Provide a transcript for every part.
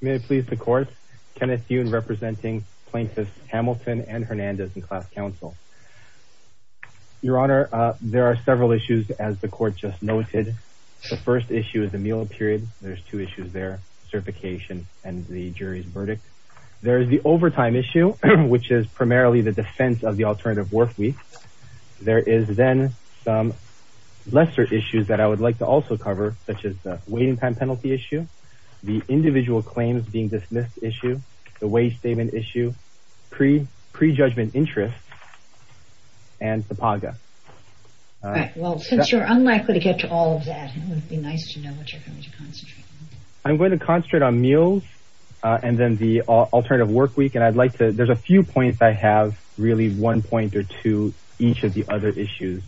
May it please the Court, Kenneth Yoon representing plaintiffs Hamilton and Hernandez in Class Counsel. Your Honor, there are several issues as the Court just noted. The first issue is the meal period. There's two issues there, certification and the jury's verdict. There is the overtime issue which is primarily the defense of the alternative work week. There is then some lesser issues that I would like to also cover such as the waiting time penalty issue, the individual claims being dismissed issue, the wage statement issue, pre-judgment interest, and SEPAGA. All right well since you're unlikely to get to all of that it would be nice to know what you're going to concentrate on. I'm going to concentrate on meals and then the alternative work week and I'd like to there's a few points I have really one point or two each of the other issues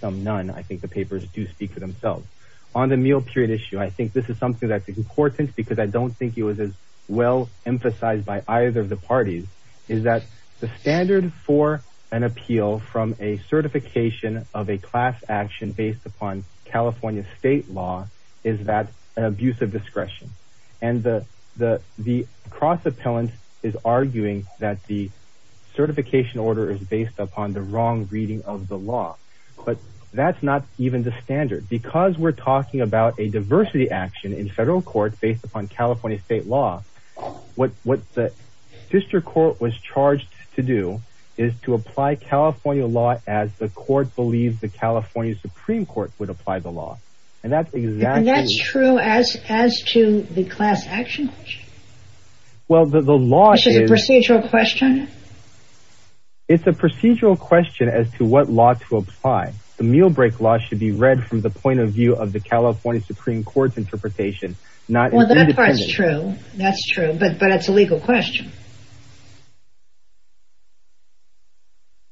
some none I think the papers do speak for themselves. On the meal period issue I think this is something that's important because I don't think it was as well emphasized by either of the parties is that the standard for an appeal from a certification of a class action based upon California state law is that an abuse of discretion and the cross-appellant is arguing that the certification order is based upon the wrong reading of the law but that's not even the action in federal court based upon California state law. What the district court was charged to do is to apply California law as the court believes the California Supreme Court would apply the law and that's exactly that's true as as to the class action question. Well the law is a procedural question. It's a procedural question as to what law to apply. The meal break law should be read from the point of view of the California Supreme Court's interpretation. Well that part's true that's true but but it's a legal question.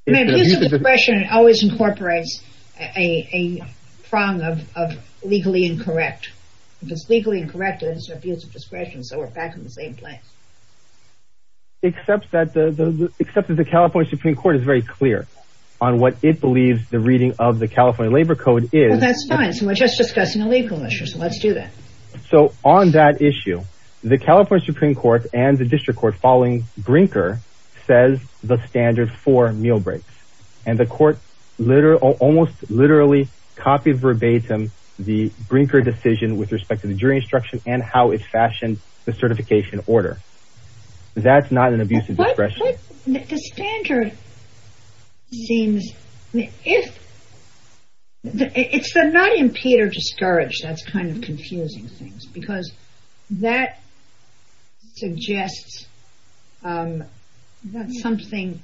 I mean abuse of discretion always incorporates a prong of legally incorrect because legally incorrect is abuse of discretion so we're back in the same place. Except that the except that the California Supreme Court is very clear on what it believes the reading of the California labor code is. Well that's fine so we're just discussing a legal issue so let's do that. So on that issue the California Supreme Court and the district court following Brinker says the standard for meal breaks and the court literally almost literally copied verbatim the Brinker decision with respect to the jury instruction and how it seems if it's the not impede or discourage that's kind of confusing things because that suggests that something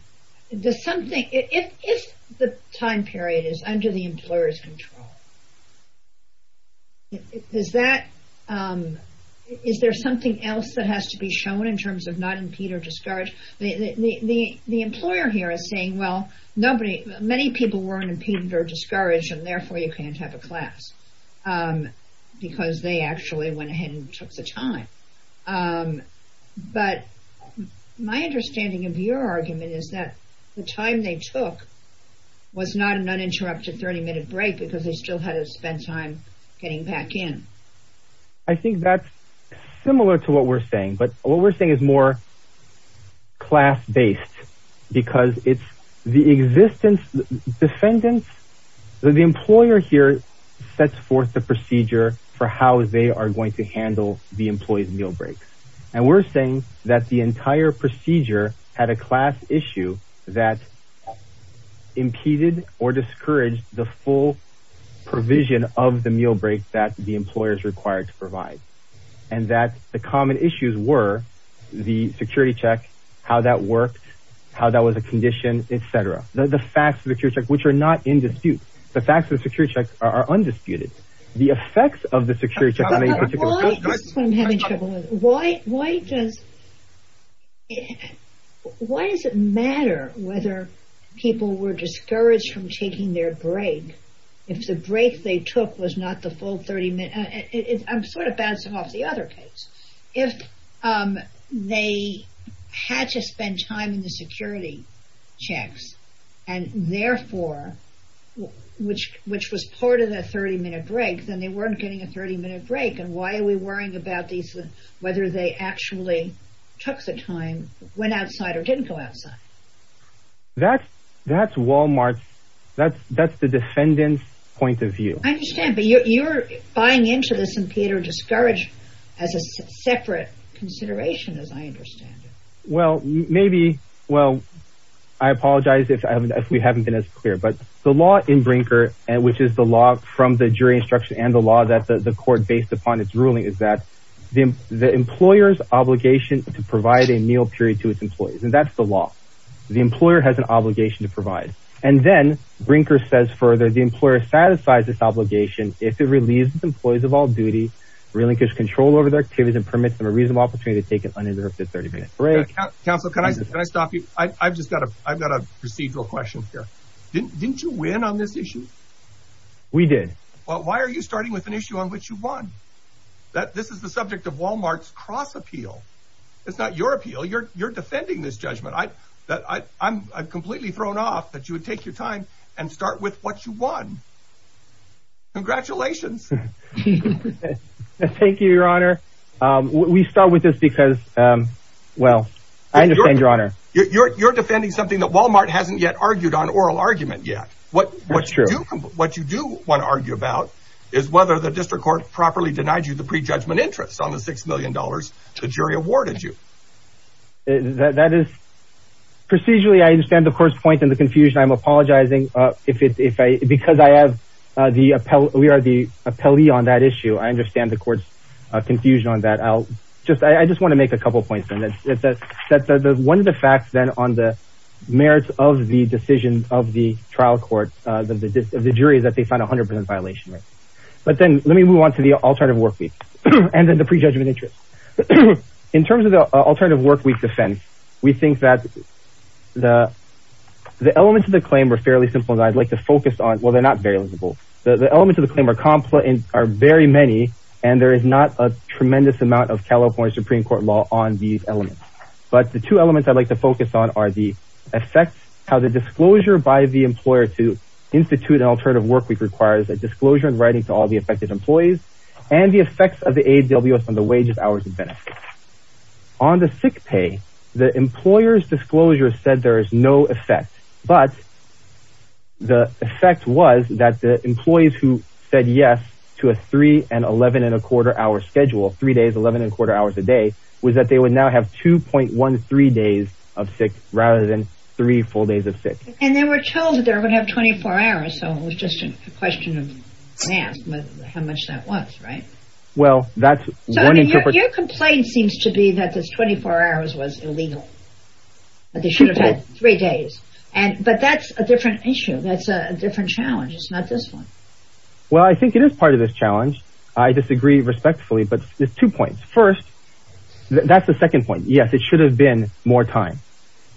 does something if if the time period is under the employer's control is that is there something else that has to be shown in terms of not impede or discourage the the the employer here is saying well nobody many people weren't impeded or discouraged and therefore you can't have a class because they actually went ahead and took the time but my understanding of your argument is that the time they took was not an uninterrupted 30-minute break because they still had to spend time getting back in. I think that's what we're saying but what we're saying is more class-based because it's the existence defendants the employer here sets forth the procedure for how they are going to handle the employee's meal breaks and we're saying that the entire procedure had a class issue that impeded or discouraged the full provision of the meal break that the employers required to provide and that the common issues were the security check how that worked how that was a condition etc the facts of the security check which are not in dispute the facts of the security check are undisputed the effects of the security check why why does why does it matter whether people were discouraged from taking their break if the break they took was not the full 30 minutes I'm sort of bouncing off the other case if they had to spend time in the security checks and therefore which which was part of the 30-minute break then they weren't getting a 30-minute break and why are we worrying about these whether they actually took the time went outside or didn't go outside that's that's walmart that's that's the defendant's point of but you're buying into this and peter discouraged as a separate consideration as I understand it well maybe well I apologize if I haven't if we haven't been as clear but the law in Brinker and which is the law from the jury instruction and the law that the court based upon its ruling is that the the employer's obligation to provide a meal period to its employees and that's the law the employer has an obligation to provide and then Brinker says further the employer satisfies this obligation if it relieves its employees of all duty relinquish control over their activities and permits them a reasonable opportunity to take an uninterrupted 30-minute break counsel can I can I stop you I've just got a I've got a procedural question here didn't didn't you win on this issue we did well why are you starting with an issue on which you won that this is the subject of walmart's cross appeal it's not your appeal you're you're defending this judgment I that I I'm I've completely thrown off that you would take your time and start with what you won congratulations thank you your honor um we start with this because um well I understand your honor you're you're defending something that walmart hasn't yet argued on oral argument yet what what you do what you do want to argue about is whether the district court properly denied you the pre that that is procedurally I understand the course point in the confusion I'm apologizing uh if it's if I because I have uh the appellate we are the appellee on that issue I understand the court's uh confusion on that I'll just I just want to make a couple points and that's that's that's one of the facts then on the merits of the decision of the trial court uh the jury is that they found 100 violation right but then let me move on to the alternative work week and then pre-judgment interest in terms of the alternative work week defense we think that the the elements of the claim are fairly simple and I'd like to focus on well they're not very livable the elements of the claim are complex and are very many and there is not a tremendous amount of california supreme court law on these elements but the two elements I'd like to focus on are the effects how the disclosure by the employer to institute an alternative work week requires a disclosure in writing to all the affected employees and the effects of the aws on the wages hours and benefits on the sick pay the employer's disclosure said there is no effect but the effect was that the employees who said yes to a three and eleven and a quarter hour schedule three days eleven and quarter hours a day was that they would now have 2.13 days of sick rather than three full days of and they were told that they would have 24 hours so it was just a question of how much that was right well that's your complaint seems to be that this 24 hours was illegal but they should have had three days and but that's a different issue that's a different challenge it's not this one well I think it is part of this challenge I disagree respectfully but there's two points first that's the second point yes it should have been more time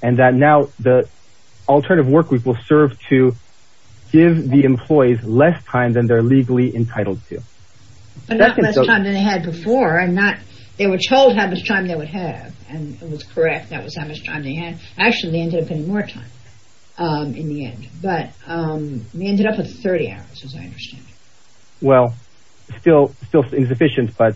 and that now the alternative work week will serve to give the employees less time than they're legally entitled to but not less time than they had before and not they were told how much time they would have and it was correct that was how much time they had actually ended up getting more time um in the end but um we ended up with 30 hours as I understand well still still insufficient but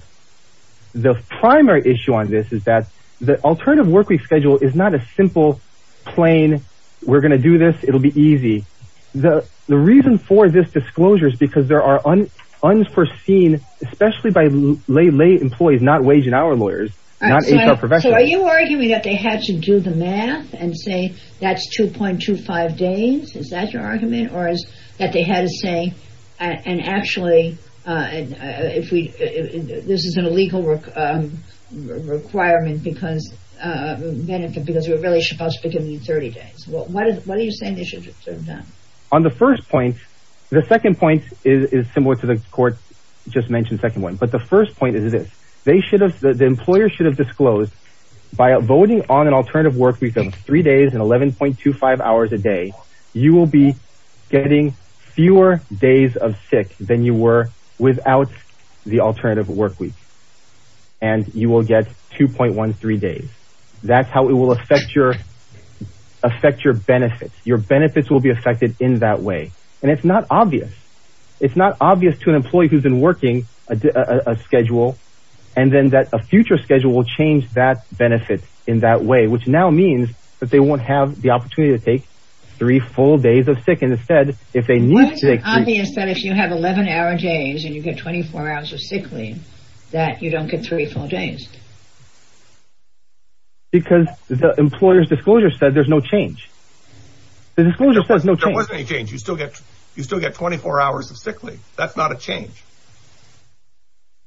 the primary issue on this is that the alternative work week schedule is not a simple plain we're going to do this it'll be easy the the reason for this disclosure is because there are unforeseen especially by lay employees not wage and hour lawyers not HR professionals so are you arguing that they had to do the math and say that's 2.25 days is that your argument or that they had to say and actually uh and if we this is an illegal work um requirement because uh benefit because we're really supposed to be giving you 30 days well what are you saying they should have done on the first point the second point is is similar to the court just mentioned second one but the first point is this they should have the employer should have disclosed by voting on an alternative work week of three days and 11.25 hours a day you will be getting fewer days of sick than you were without the alternative work week and you will get 2.13 days that's how it will affect your affect your benefits your benefits will be affected in that way and it's not obvious it's not obvious to an employee who's been working a schedule and then that a future schedule will change that benefit in that way which now means that they won't have the opportunity to take three full days of sick and instead if they need to take obvious that if you have 11 hour days and you get 24 hours of sick leave that you don't get three full days because the employer's disclosure said there's no change the disclosure says no change you still get you still get 24 hours of sick leave that's not a change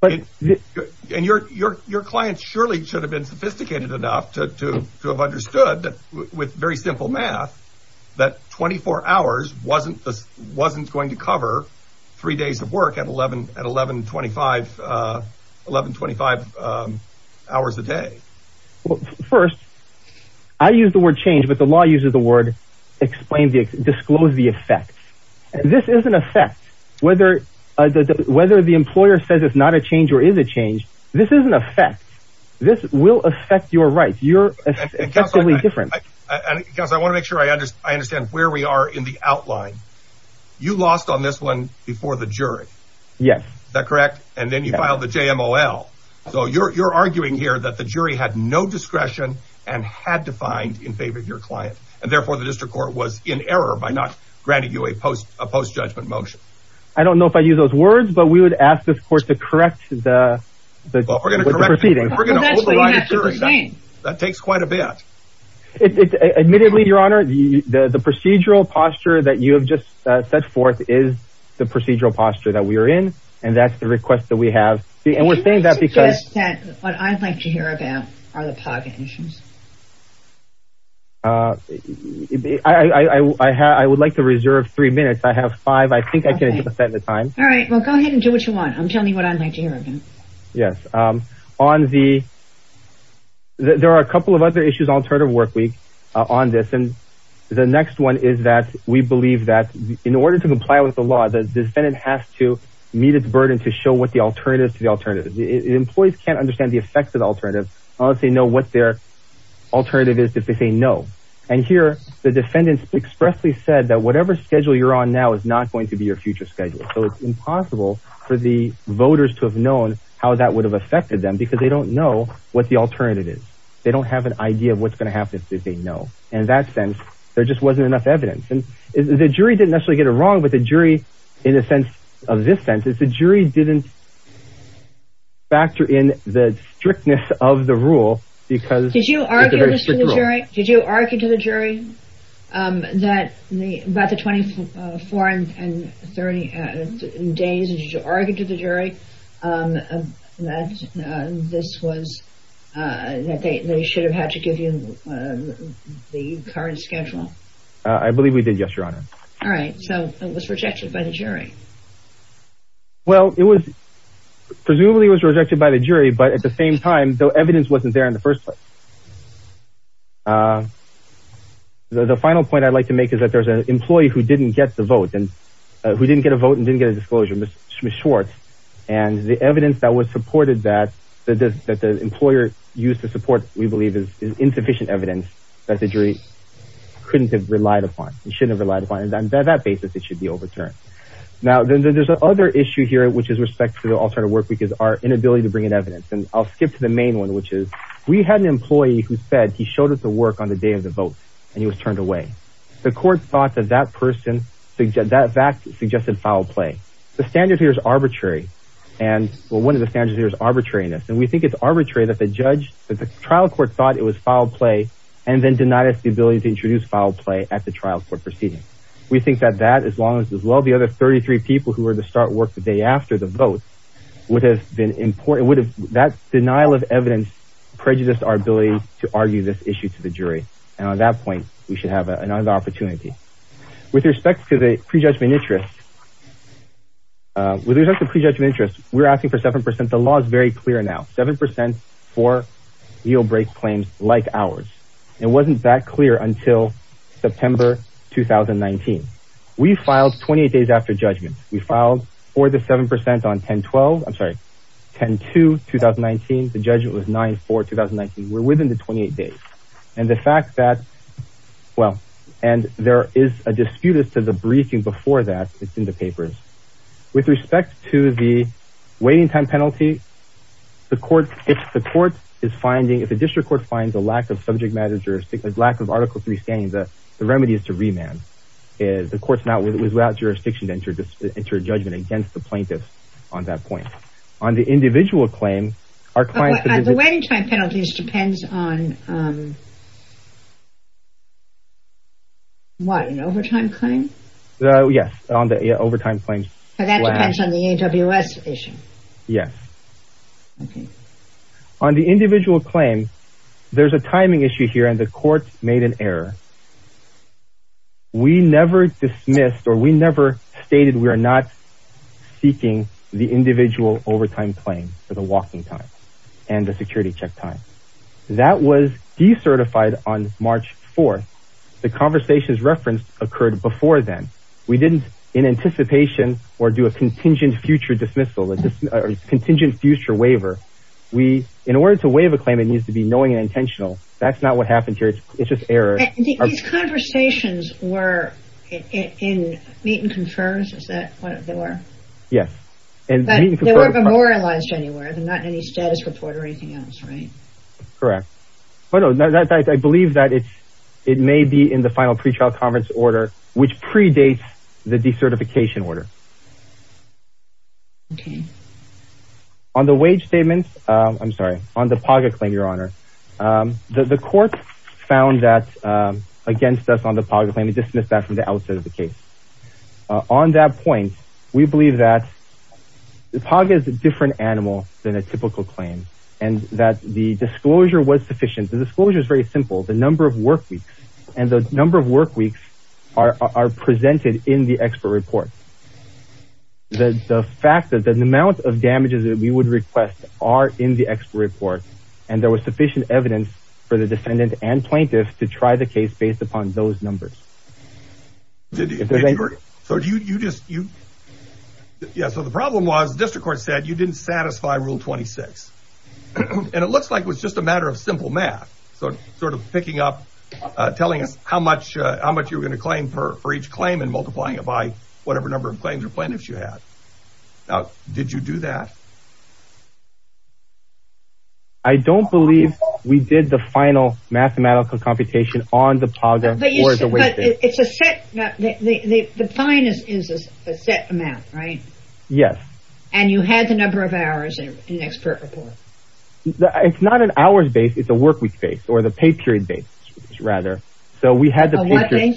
but and your your clients surely should have been sophisticated enough to to to have understood that with very simple math that 24 hours wasn't this wasn't going to cover three days of work at 11 at 11.25 11.25 hours a day well first i use the word change but the law uses the word explain the disclose the effect this is an effect whether the whether the employer says it's not a change or is it changed this is an effect this will affect your rights you're different because i want to make sure i understand where we are in the outline you lost on this one before the jury yes is that correct and then you filed the jmol so you're you're arguing here that the jury had no discretion and had to find in favor of your client and therefore the district court was in error by not granting you a post a post judgment motion i don't know if i use those words but we would ask this court to correct the but we're going to correct proceeding we're going to override that takes quite a bit admittedly your honor the the procedural posture that you have just set forth is the procedural posture that we are in and that's the request that we have and we're saying that because what i'd like to hear about are the pocket issues uh i i i i have i would like to reserve three minutes i have five i think i can accept the time all right well go ahead and do what you want i'm telling you what i'd like to hear again yes um on the there are a couple of other issues alternative work week on this and the next one is that we believe that in order to comply with the law the defendant has to meet its burden to show what the alternatives to the alternatives the employees can't understand the effects of the alternative unless they know what their alternative is if they say no and here the defendants expressly said that whatever schedule you're on now is not going to be your future schedule so it's impossible for the voters to have known how that would have affected them because they don't know what the alternative is they don't have an idea of what's going to happen if they know in that sense there just wasn't enough evidence and the jury didn't necessarily get it wrong but the jury in the sense of this sense is the jury didn't factor in the strictness of the rule because did you argue this to the jury did you argue to the jury um that the about the 24 and 30 days did you argue to the jury um that this was uh that they should have had to give you the current schedule i believe we did yes your honor all right so it was rejected by the jury well it was presumably was rejected by the jury but at the same time though evidence wasn't there in the first place uh the final point i'd like to make is that there's an employee who didn't get the vote and who didn't get a vote and didn't get a disclosure miss schwartz and the evidence that was supported that that this that the employer used to support we believe is insufficient evidence that the jury couldn't have relied upon he shouldn't have relied upon and on that basis it should be overturned now then there's another issue here which is respect for the alternative work because our inability to bring in evidence and i'll skip to the main one which is we had an employee who said he showed us the work on the day of the vote and he was turned away the court thought that that person suggested that fact suggested foul play the standard here is arbitrary and well one of the standards here is arbitrariness and we think it's arbitrary that the judge that the trial court thought it was foul play and then denied us the ability to introduce foul play at the trial court proceeding we think that that as long as as well the other 33 people who were to start work the day after the vote would have been important would have that denial of evidence prejudiced our ability to argue this issue to the jury and on that point we should have another opportunity with respect to the prejudgment interest uh with respect to prejudgment interest we're asking for seven the law is very clear now seven percent for yield break claims like ours it wasn't that clear until september 2019 we filed 28 days after judgment we filed for the seven percent on 10 12 i'm sorry 10 to 2019 the judgment was 9 for 2019 we're within the 28 days and the fact that well and there is a dispute as to the briefing before that it's in the papers with respect to the waiting time penalty the court if the court is finding if the district court finds a lack of subject matter jurisdiction lack of article 3 scanning the remedy is to remand is the court's not with without jurisdiction to enter into a judgment against the plaintiff on that point on the individual claim our client the waiting time penalties depends on um yes okay on the individual claim there's a timing issue here and the court made an error we never dismissed or we never stated we are not seeking the individual overtime claim for the walking time and the security check time that was decertified on march 4th the conversations referenced occurred before then we didn't in anticipation or do a contingent future dismissal contingent future waiver we in order to waive a claim it needs to be knowing and intentional that's not what happened here it's just error these conversations were in meet and confirms is that what they were yes and they weren't memorialized anywhere they're not in any status report or anything else right correct oh no that i believe that it's it may be in the final pre-trial conference order which predates the decertification order okay on the wage statement um i'm sorry on the pocket claim your honor um the the court found that um against us on the pocket claim and dismissed that from the outset of the case on that point we believe that the pog is a different animal than a typical claim and that the disclosure was sufficient the disclosure is very simple the number of work weeks are are presented in the expert report the the fact that the amount of damages that we would request are in the expert report and there was sufficient evidence for the descendant and plaintiff to try the case based upon those numbers so do you just you yeah so the problem was the district court said you didn't satisfy rule 26 and it looks like it was just a much uh how much you were going to claim for for each claim and multiplying it by whatever number of claims or plaintiffs you had now did you do that i don't believe we did the final mathematical computation on the pog or the way it's a set now the the the fine is is a set amount right yes and you had the number of hours in an expert report it's not an hour's base it's a work week base or the pay period base rather so we had the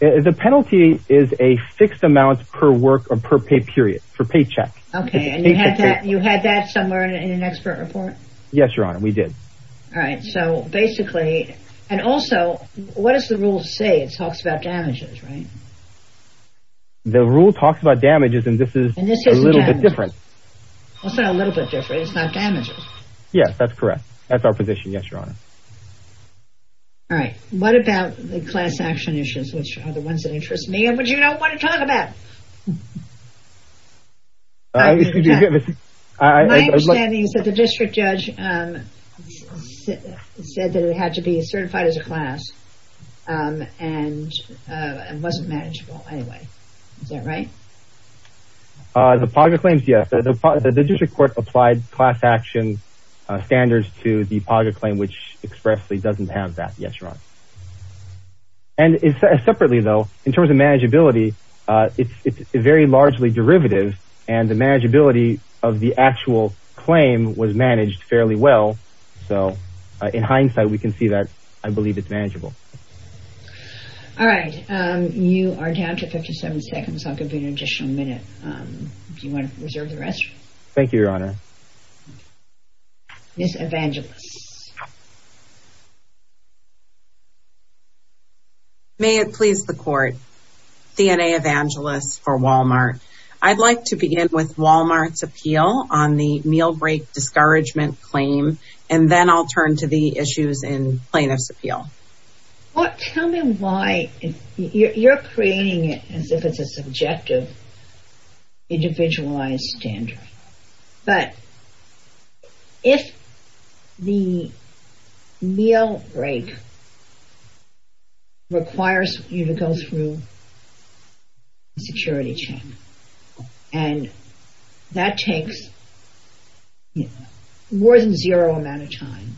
the penalty is a fixed amount per work or per pay period for paycheck okay and you had that you had that somewhere in an expert report yes your honor we did all right so basically and also what does the rule say it talks about damages right the rule talks about damages and this is a little bit what's that a little bit different it's not damages yes that's correct that's our position yes your honor all right what about the class action issues which are the ones that interest me and what you don't want to talk about my understanding is that the district judge said that it had to be certified as a class um and uh and wasn't manageable anyway is that right uh the pog claims yes the district court applied class action standards to the pog claim which expressly doesn't have that yes your honor and it's separately though in terms of manageability uh it's it's very largely derivative and the manageability of the actual claim was managed fairly well so in hindsight we can see that i believe it's manageable all right um you are down to 57 seconds i'll give you an additional minute um do you want to reserve the rest thank you your honor miss evangelist may it please the court dna evangelist for walmart i'd like to begin with walmart's appeal on the meal break discouragement claim and then i'll turn to the issues in plaintiff's appeal what tell me why you're creating it as if it's a subjective individualized standard but if the meal break requires you to go through a security check and that takes you know more than zero amount of time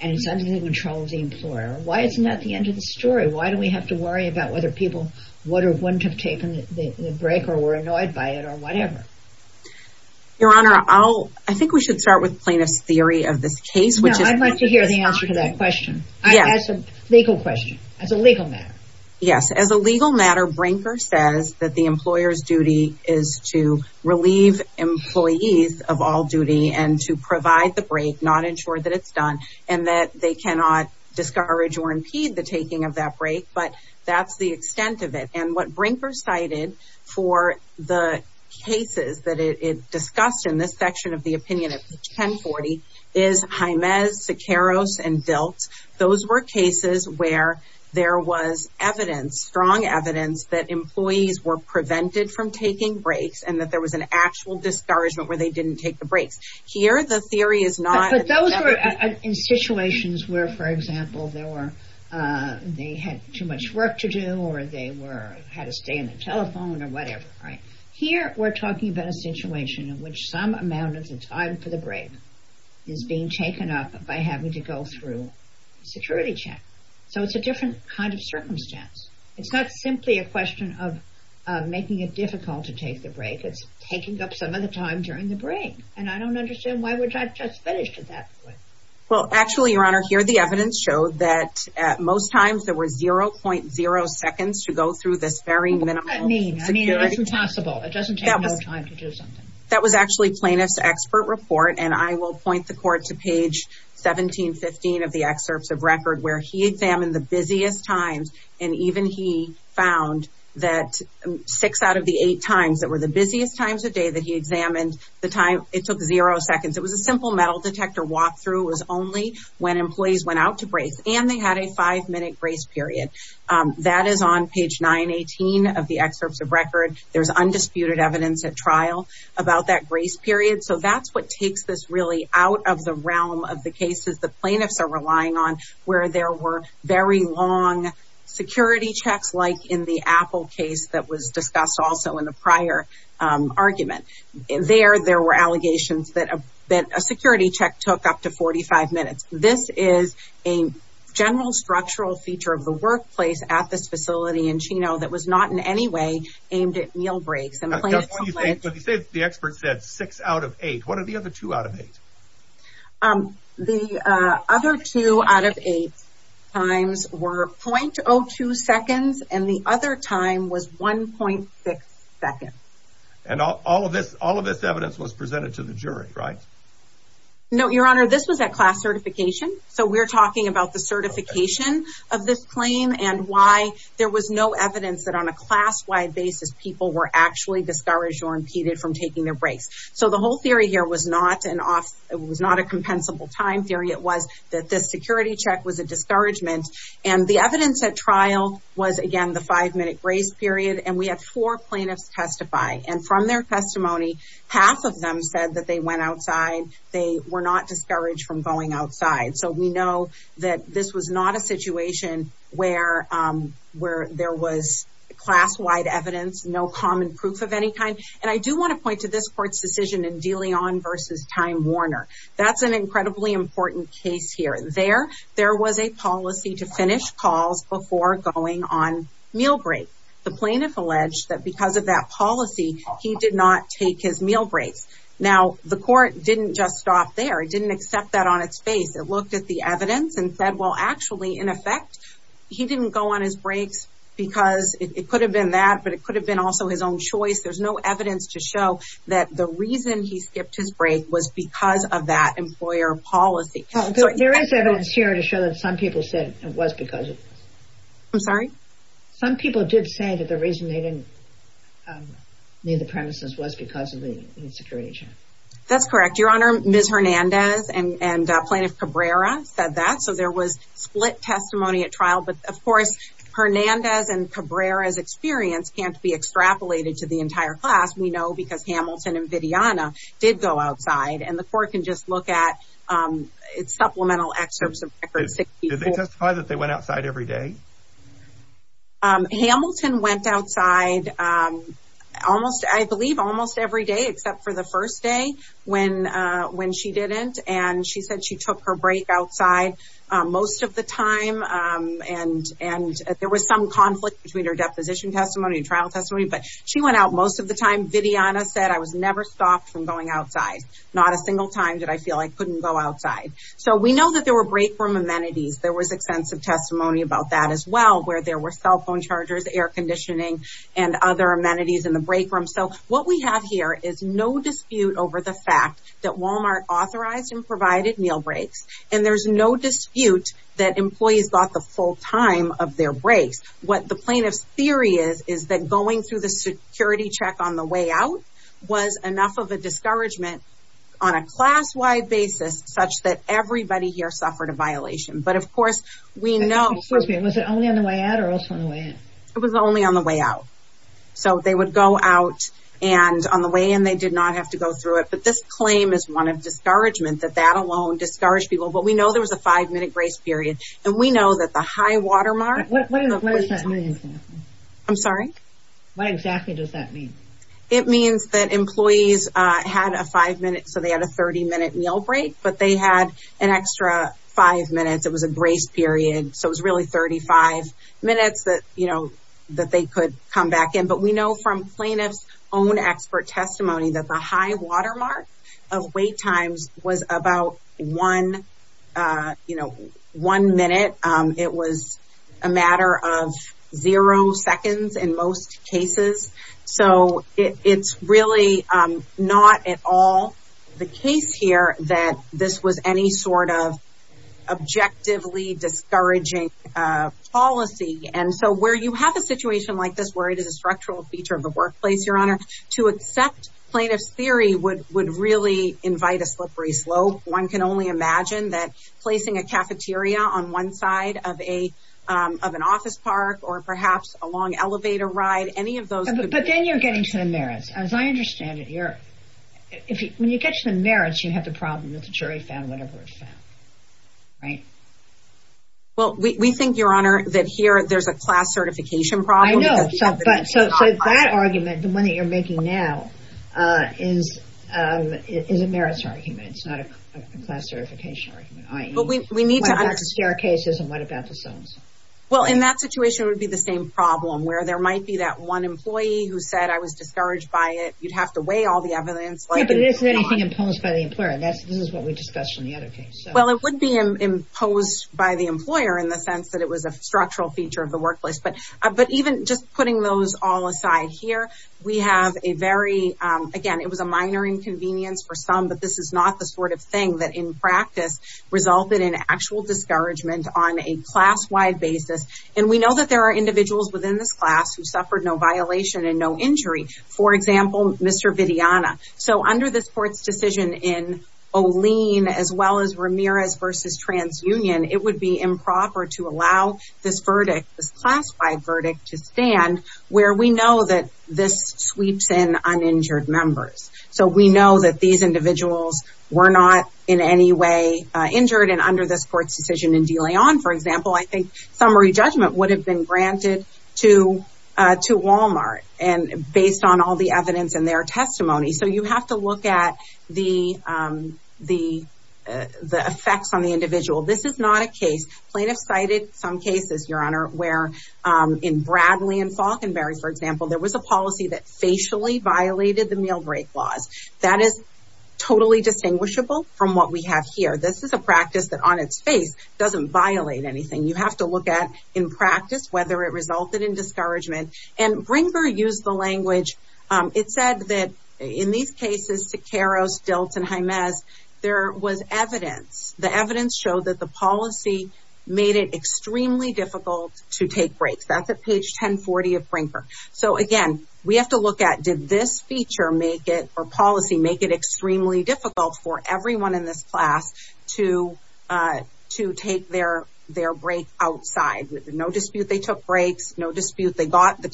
and it's under the control of the employer why isn't that the end of the story why do we have to worry about whether people would or wouldn't have taken the break or were annoyed by it or whatever your honor i'll i think we should start with plaintiff's theory of this case which is i'd like to hear the answer to that question i guess a legal question as a legal matter yes as a legal matter brinker says that the of all duty and to provide the break not ensure that it's done and that they cannot discourage or impede the taking of that break but that's the extent of it and what brinker cited for the cases that it discussed in this section of the opinion at 10 40 is jimez siqueiros and built those were cases where there was evidence strong evidence that employees were prevented from taking breaks and that there was an actual discouragement where they didn't take the breaks here the theory is not but those were in situations where for example there were they had too much work to do or they were had to stay in the telephone or whatever right here we're talking about a situation in which some amount of the time for the break is being taken up by having to go through security check so it's a different kind of circumstance it's not simply a difficult to take the break it's taking up some of the time during the break and i don't understand why would i just finished at that point well actually your honor here the evidence showed that at most times there were 0.0 seconds to go through this very minimal i mean i mean it's possible it doesn't take no time to do something that was actually plaintiff's expert report and i will point the court to page 17 15 of the excerpts of record where he examined the busiest times and even he found that six out of the eight times that were the busiest times a day that he examined the time it took zero seconds it was a simple metal detector walk through was only when employees went out to brace and they had a five minute grace period that is on page 918 of the excerpts of record there's undisputed evidence at trial about that grace period so that's what takes this really out of the realm of the cases the plaintiffs are relying on where there were very long security checks like in the apple case that was discussed also in the prior um argument there there were allegations that a that a security check took up to 45 minutes this is a general structural feature of the workplace at this facility in chino that was not in any way aimed at meal breaks and the expert said six out of eight what are the other two out of eight um the uh other two out of eight times were 0.02 seconds and the other time was 1.6 seconds and all of this all of this evidence was presented to the jury right no your honor this was at class certification so we're talking about the certification of this claim and why there was no evidence that on a class-wide basis people were actually discouraged or impeded from taking their so the whole theory here was not an off it was not a compensable time theory it was that this security check was a discouragement and the evidence at trial was again the five-minute grace period and we have four plaintiffs testify and from their testimony half of them said that they went outside they were not discouraged from going outside so we know that this was not a situation where um where there was class-wide evidence no common proof of any kind and i do want to point to this court's decision in dealing on versus time warner that's an incredibly important case here there there was a policy to finish calls before going on meal break the plaintiff alleged that because of that policy he did not take his meal breaks now the court didn't just stop there it didn't accept that on its face it looked at the evidence and said well actually in effect he didn't go on his breaks because it could have been that but it could have been also his own choice there's no evidence to show that the reason he skipped his break was because of that employer policy there is evidence here to show that some people said it was because of i'm sorry some people did say that the reason they didn't um leave the premises was because of the insecurity check that's correct your honor ms hernandez and and plaintiff cabrera said that so there was split testimony at trial but of course hernandez and cabrera's experience can't be extrapolated to the entire class we know because hamilton and vidiana did go outside and the court can just look at um it's supplemental excerpts of records did they testify that they went outside every day um hamilton went outside um almost i believe almost every day except for the first day when uh when she didn't and she said she took her break outside uh most of the time um and and there was some conflict between her deposition testimony and trial testimony but she went out most of the time vidiana said i was never stopped from going outside not a single time did i feel i couldn't go outside so we know that there were break room amenities there was extensive testimony about that as well where there were cell phone chargers air conditioning and other amenities in the break room so what we have here is no dispute over the fact that walmart authorized and provided meal breaks and there's no dispute that employees got the full time of their breaks what the plaintiff's theory is is that going through the security check on the way out was enough of a discouragement on a class-wide basis such that everybody here suffered a violation but of course we know excuse me was it only on the way out or also on the way in it was only on the way out so they would go out and on the way and they did not have to go through it but this that alone discouraged people but we know there was a five minute grace period and we know that the high watermark what is that i'm sorry what exactly does that mean it means that employees uh had a five minute so they had a 30 minute meal break but they had an extra five minutes it was a grace period so it was really 35 minutes that you know that they could come back in but we know from plaintiff's own expert testimony that the high watermark of wait times was about one uh you know one minute um it was a matter of zero seconds in most cases so it's really um not at all the case here that this was any sort of objectively discouraging uh policy and so where you have a feature of the workplace your honor to accept plaintiff's theory would would really invite a slippery slope one can only imagine that placing a cafeteria on one side of a um of an office park or perhaps a long elevator ride any of those but then you're getting to the merits as i understand it here if when you get to the merits you have the problem that the jury found whatever it found right well we think your honor that here there's a class certification problem i know but so that argument the one that you're making now uh is um is a merits argument it's not a class certification argument but we need to understand our cases and what about the zones well in that situation it would be the same problem where there might be that one employee who said i was discouraged by it you'd have to weigh all the evidence but this is anything imposed by the employer that's this is what we discussed in the other case well it would be imposed by the employer in the sense that it was a structural feature of the workplace but even just putting those all aside here we have a very um again it was a minor inconvenience for some but this is not the sort of thing that in practice resulted in actual discouragement on a class-wide basis and we know that there are individuals within this class who suffered no violation and no injury for example mr vidiana so under this court's decision in oleen as well as ramirez versus trans union it would be improper to allow this verdict this class-wide verdict to stand where we know that this sweeps in uninjured members so we know that these individuals were not in any way uh injured and under this court's decision in delay on for example i think summary judgment would have been granted to uh to walmart and based on all the the effects on the individual this is not a case plaintiff cited some cases your honor where in bradley and falconberry for example there was a policy that facially violated the meal break laws that is totally distinguishable from what we have here this is a practice that on its face doesn't violate anything you have to look at in practice whether it resulted in discouragement and bringer used the language um it said that in these cases to caros dilton james there was evidence the evidence showed that the policy made it extremely difficult to take breaks that's at page 10 40 of bringer so again we have to look at did this feature make it or policy make it extremely difficult for everyone in this class to uh to take their their break outside with no the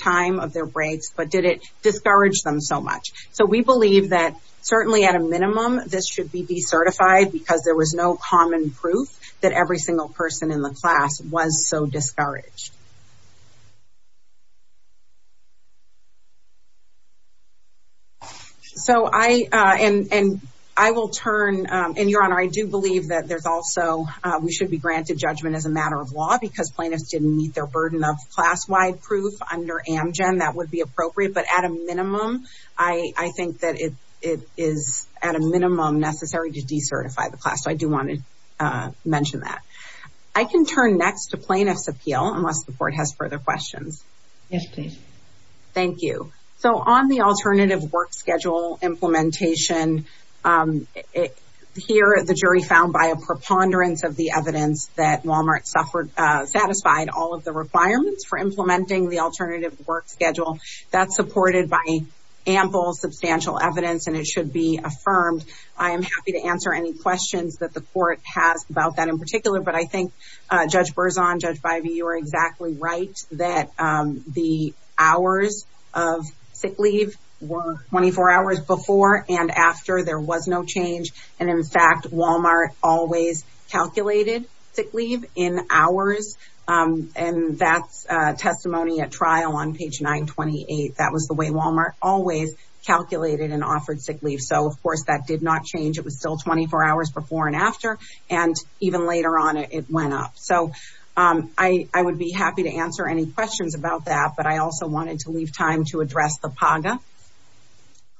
time of their breaks but did it discourage them so much so we believe that certainly at a minimum this should be decertified because there was no common proof that every single person in the class was so discouraged so i uh and and i will turn um and your honor i do believe that there's also uh we should be granted judgment as a matter of law because plaintiffs didn't meet their burden of class-wide proof under amgen that would be appropriate but at a minimum i i think that it it is at a minimum necessary to decertify the class so i do want to uh mention that i can turn next to plaintiffs appeal unless the court has further questions yes please thank you so on the alternative work schedule implementation um here the jury found by a for implementing the alternative work schedule that's supported by ample substantial evidence and it should be affirmed i am happy to answer any questions that the court has about that in particular but i think uh judge berzon judge bivy you are exactly right that um the hours of sick leave were 24 hours before and after there was no change and in fact walmart always calculated sick leave in hours um and that's uh testimony at trial on page 928 that was the way walmart always calculated and offered sick leave so of course that did not change it was still 24 hours before and after and even later on it went up so um i i would be happy to answer any questions about that but i also wanted to leave time to address the paga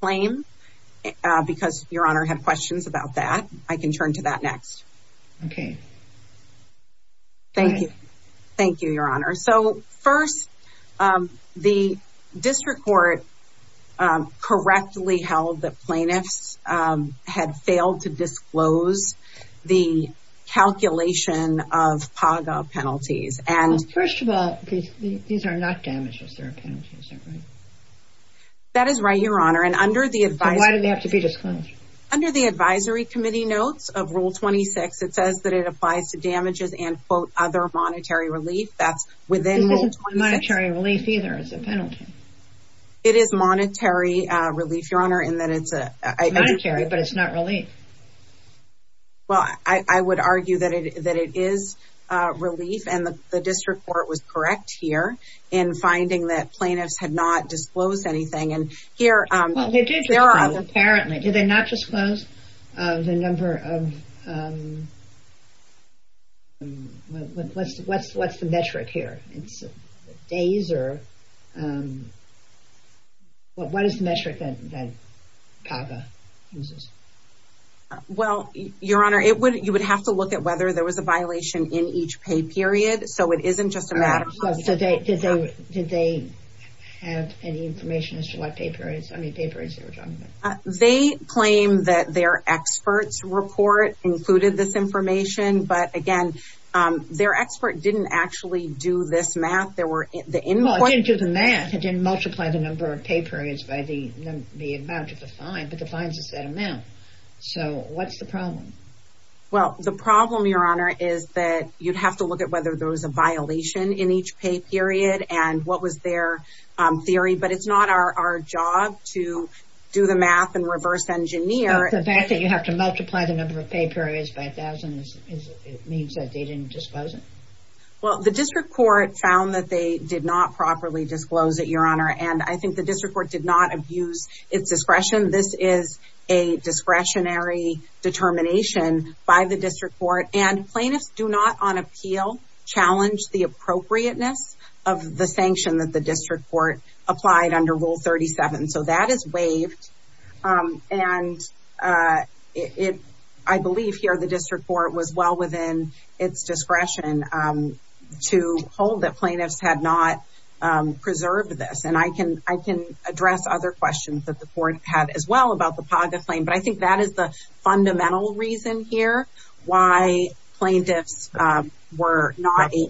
claim because your honor had questions about that i can turn to that next okay thank you thank you your honor so first um the district court um correctly held that plaintiffs um had failed to disclose the calculation of paga penalties and first of all these are not damages they're penalties right that is right your honor and why do they have to be disclosed under the advisory committee notes of rule 26 it says that it applies to damages and quote other monetary relief that's within monetary relief either as a penalty it is monetary uh relief your honor and that it's a monetary but it's not relief well i i would argue that it that it is uh relief and the district court was correct here in finding that plaintiffs had not disclosed anything and here um they did apparently did they not disclose uh the number of um what's what's what's the metric here it's days or um what what is the metric that that paga uses well your honor it would you would have to look at whether there was a violation in each pay period so it isn't just a matter of so they did they did they have any information as to what paper is i mean papers they were talking about they claim that their experts report included this information but again um their expert didn't actually do this math there were the input didn't do the math it didn't multiply the number of pay periods by the the amount of the fine but the fines is that amount so what's the problem well the problem your honor is that you'd have to look at whether there was a violation in each pay period and what was their um theory but it's not our our job to do the math and reverse engineer the fact that you have to multiply the number of pay periods by a thousand is it means that they didn't disclose it well the district court found that they did not properly disclose it your honor and i think the district court did not abuse its discretion this is a discretionary determination by the district court and plaintiffs do not on appeal challenge the appropriateness of the sanction that the district court applied under rule 37 so that is waived um and uh it i believe here the district court was well within its discretion um to hold that plaintiffs had not um preserved this and i can i can address other questions that the court had as well about the paga claim but i think that is the fundamental reason here why plaintiffs were not a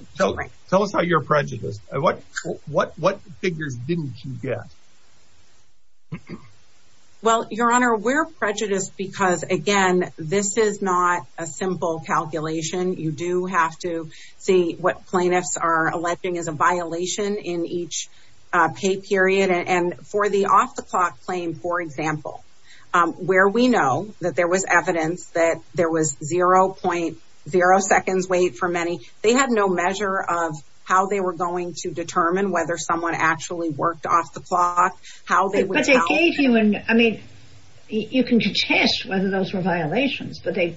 tell us how you're prejudiced what what what figures didn't you get well your honor we're prejudiced because again this is not a simple calculation you do have to see what plaintiffs are alleging is a violation in each uh pay period and for the off the clock claim for example um where we know that there was evidence that there was 0.0 seconds wait for many they had no measure of how they were going to determine whether someone actually worked off the clock how they were but they gave you and i mean you can contest whether those were violations but they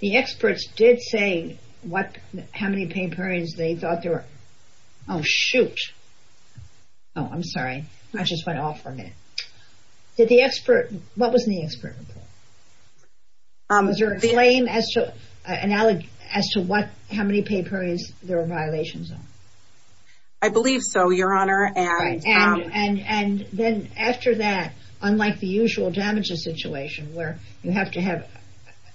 the experts did say what how many pay periods they thought they were oh shoot oh i'm sorry i just went off for a minute did the expert what was in the expert report um is there a claim as to analog as to what how many paper is there a violation zone i believe so your honor and and and then after that unlike the usual damages situation where you have to have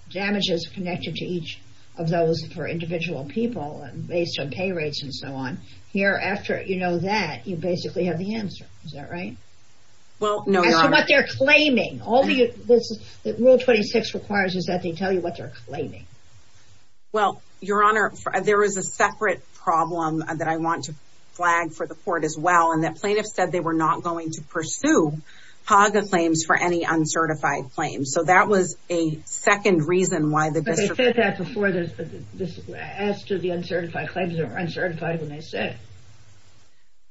damages connected to each of those for individual people and based on pay rates and so on here after you know that you basically have the answer is that right well no that's what they're claiming all the rule 26 requires is that they tell you what they're claiming well your honor there is a separate problem that i want to flag for the court as well and that plaintiff said they were not going to pursue paga claims for any uncertified claims so that was a second reason why the district said that before this this as to the uncertified claims that were uncertified when they said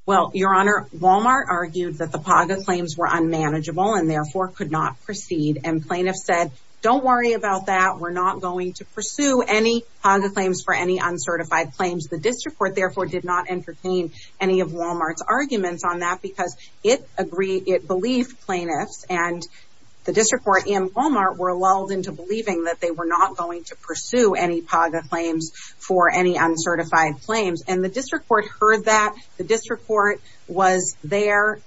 well your honor walmart argued that the paga claims were unmanageable and therefore could not proceed and plaintiffs said don't worry about that we're not going to pursue any paga claims for any uncertified claims the district court therefore did not entertain any of walmart's arguments on that because it agreed it believed plaintiffs and the district court and walmart were lulled into believing that they were not going to pursue any paga claims for any uncertified claims and the district court heard that the district court was there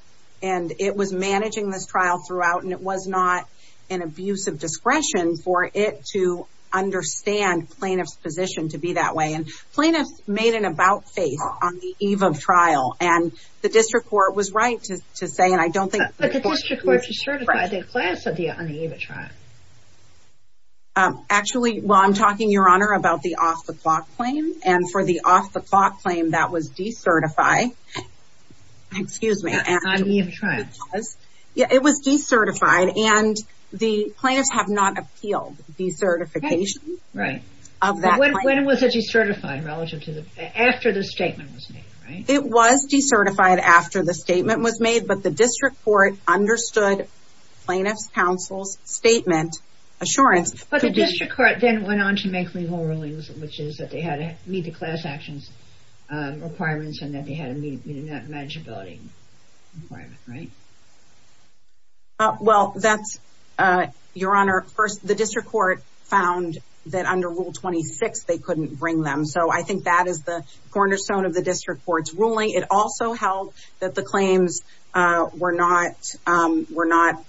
and it was managing this trial throughout and it was not an abuse of discretion for it to understand plaintiff's position to be that way and plaintiffs made an about face on the eve of trial and the district court was right to to say and i don't think the district court decertified the class of the on the eve of trial um actually well i'm talking your honor about the off the clock claim and for the off the clock claim that was decertified excuse me yeah it was decertified and the plaintiffs have not appealed decertification right of that when was it decertified relative to the after the statement was made right it was decertified after the statement was made but the district court understood plaintiff's counsel's statement assurance but the district court then went on to make legal rulings which is that they had to meet the class actions um requirements and that they had to meet that manageability requirement right uh well that's uh your honor first the district court found that under rule 26 they couldn't bring them so i think that is the cornerstone of the district court's ruling it also held that the claims uh were not um were not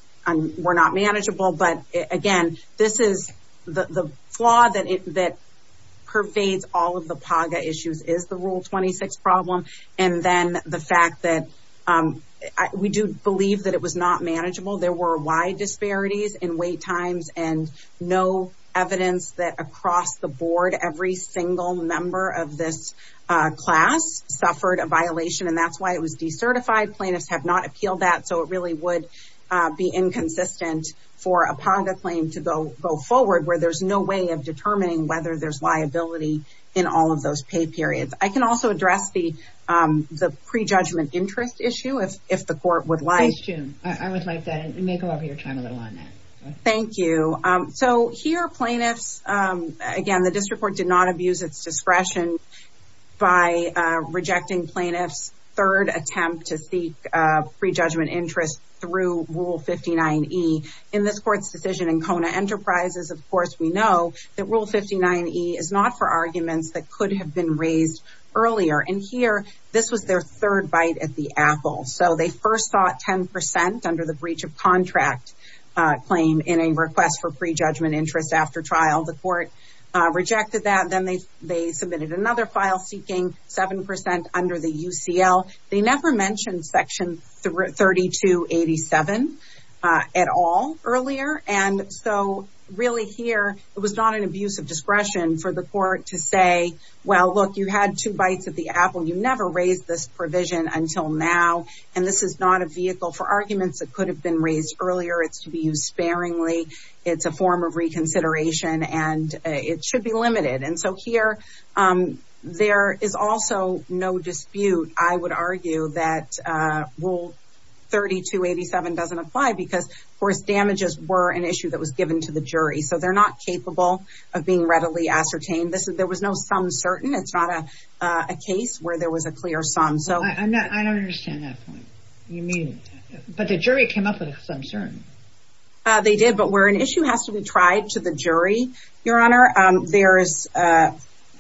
were not manageable but again this is the the flaw that it that pervades all of the paga issues is the rule 26 problem and then the fact that um we do believe that it was not manageable there were wide disparities in wait times and no evidence that across the board every single member of this class suffered a violation and that's why it was decertified plaintiffs have not appealed that so it really would uh be inconsistent for a paga claim to go go forward where there's no way of determining whether there's liability in all of those pay periods i can also address the um the pre-judgment interest issue if if the court would i would like that you may go over your time a little on that thank you um so here plaintiffs um again the district court did not abuse its discretion by uh rejecting plaintiffs third attempt to seek uh pre-judgment interest through rule 59e in this court's decision in kona enterprises of course we know that rule 59e is not for arguments that could have been raised earlier and here this was their third bite at the apple so they first thought 10 percent under the breach of contract uh claim in a request for pre-judgment interest after trial the court uh rejected that then they they submitted another file seeking seven percent under the ucl they never mentioned section 32 87 at all earlier and so really here it was not an abuse of discretion for the court to say well look you had two bites at the apple you never raised this provision until now and this is not a vehicle for arguments that could have been raised earlier it's to be used sparingly it's a form of reconsideration and it should be limited and so here um there is also no dispute i would argue that uh rule 32 87 doesn't apply because of course damages were an issue that was some certain it's not a a case where there was a clear sum so i'm not i don't understand that point you mean but the jury came up with some certain uh they did but where an issue has to be tried to the jury your honor um there is uh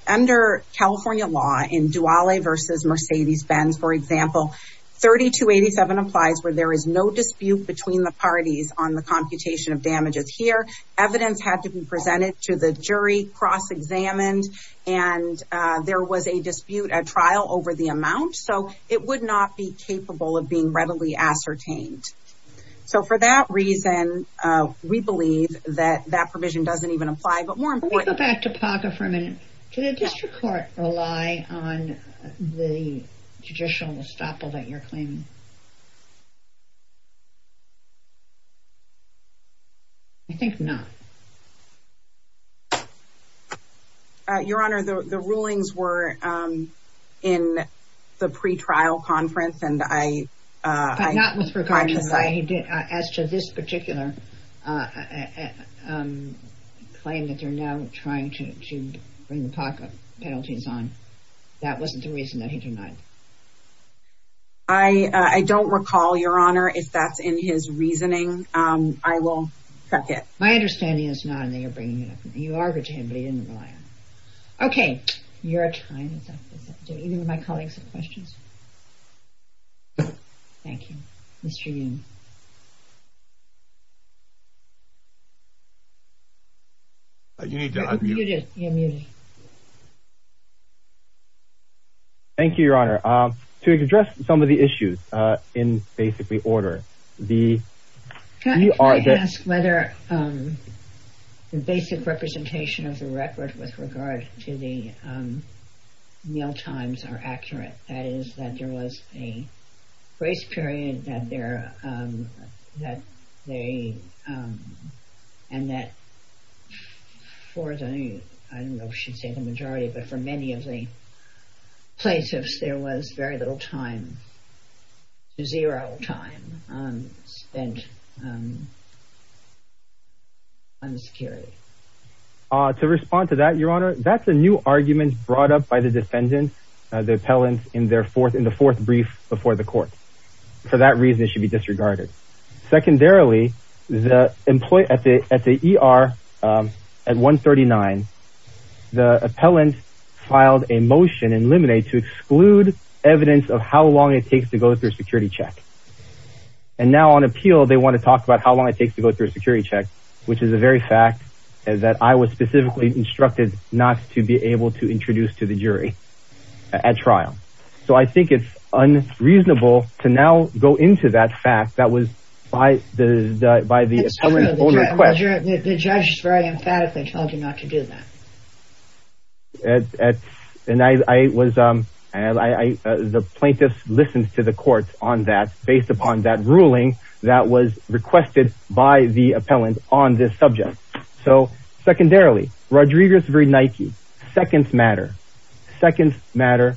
under california law in duale versus mercedes-benz for example 32 87 applies where there is no dispute between the parties on the computation of damages here evidence had to be presented to the jury cross-examined and uh there was a dispute a trial over the amount so it would not be capable of being readily ascertained so for that reason uh we believe that that provision doesn't even apply but more importantly go back to paga for a on the judicial estoppel that you're claiming i think not uh your honor the the rulings were um in the pre-trial conference and i uh not with regard to the way he did as to this particular uh um claim that they're now trying to to bring the pocket penalties on that wasn't the reason that he denied i i don't recall your honor if that's in his reasoning um i will check it my understanding is not in there you're bringing it up you are good to him but he didn't rely on okay you're a you need to unmute you're muted thank you your honor um to address some of the issues uh in basically order the you are i'd ask whether um the basic representation of the record with regard to the um times are accurate that is that there was a grace period that there um that they um and that for the i don't know should say the majority but for many of the plaintiffs there was very little time zero time um spent um on the security uh to respond to that your honor that's a new argument brought up by the defendant the appellant in their fourth in the fourth brief before the court for that reason it should be disregarded secondarily the employee at the at the er um at 139 the appellant filed a motion in limine to exclude evidence of how long it takes to go through a security check and now on appeal they want to talk about how long it takes to go through a security check which is a very fact and that i was specifically instructed not to be able to introduce to the jury at trial so i think it's unreasonable to now go into that fact that was by the by the the judge is very emphatically told you not to do that at at and i i was um and i i the plaintiffs listened to the court on that based upon that so secondarily rodriguez very nike seconds matter seconds matter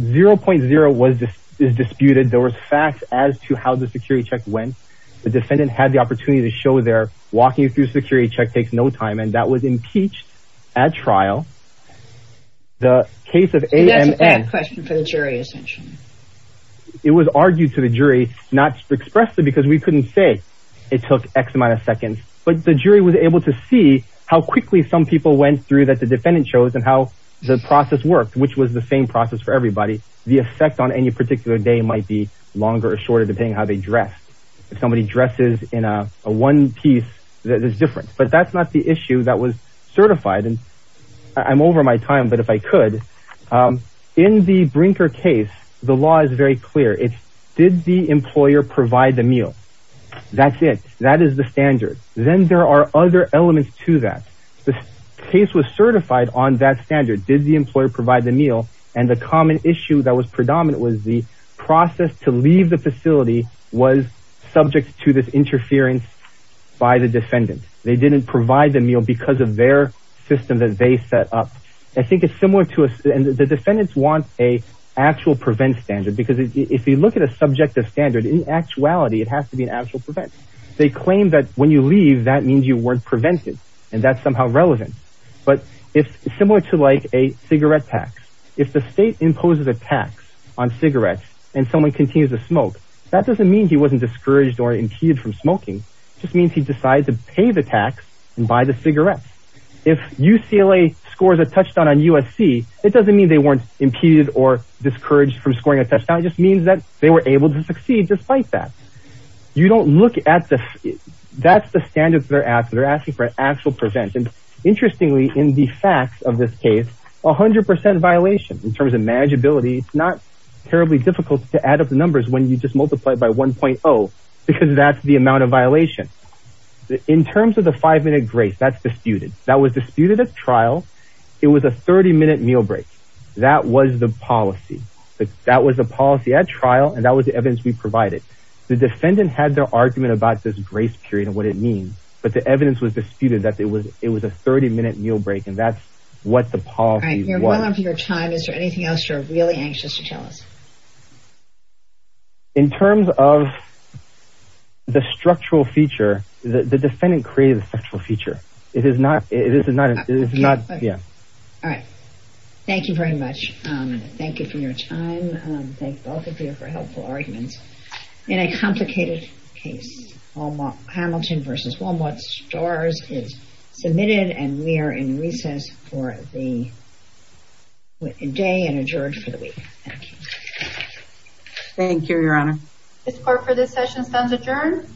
0.0 was disputed there was facts as to how the security check went the defendant had the opportunity to show they're walking through security check takes no time and that was impeached at trial the case of am and question for the jury essentially it was argued to the jury not expressly because we couldn't say it took x amount of seconds but the jury was able to see how quickly some people went through that the defendant shows and how the process worked which was the same process for everybody the effect on any particular day might be longer or shorter depending how they dress if somebody dresses in a one piece that is different but that's not the issue that was certified and i'm over my time but if i could um in the brinker case the law is very clear it's did the employer provide the meal that's it that is the standard then there are other elements to that the case was certified on that standard did the employer provide the meal and the common issue that was predominant was the process to leave the facility was subject to this interference by the defendant they didn't provide the meal because of their system that they set up i think it's similar to us and the defendants want a actual prevent standard because if you look at a subjective standard in actuality it has to be an actual prevent they claim that when you leave that means you weren't prevented and that's somehow relevant but if similar to like a cigarette tax if the state imposes a tax on cigarettes and someone continues to smoke that doesn't mean he wasn't discouraged or impeded from smoking just means he decides to pay the tax and buy the if ucla scores a touchdown on usc it doesn't mean they weren't impeded or discouraged from scoring a touchdown it just means that they were able to succeed despite that you don't look at the that's the standards that are asked they're asking for actual prevention interestingly in the facts of this case a hundred percent violation in terms of manageability it's not terribly difficult to add up the numbers when you just multiply it by 1.0 because that's the amount of violation in terms of the five-minute grace that's disputed that was disputed at trial it was a 30-minute meal break that was the policy that was the policy at trial and that was the evidence we provided the defendant had their argument about this grace period and what it means but the evidence was disputed that it was it was a 30-minute meal break and that's what the policy was your time is there anything else you're really anxious to tell us in terms of the structural feature the defendant created a sexual feature it is not it is not it is not yeah all right thank you very much um thank you for your time um thank both of you for helpful arguments in a complicated case all Hamilton versus Walmart stores is submitted and we are in recess for the day and adjourned for the week thank you thank you your honor this part for this session stands adjourned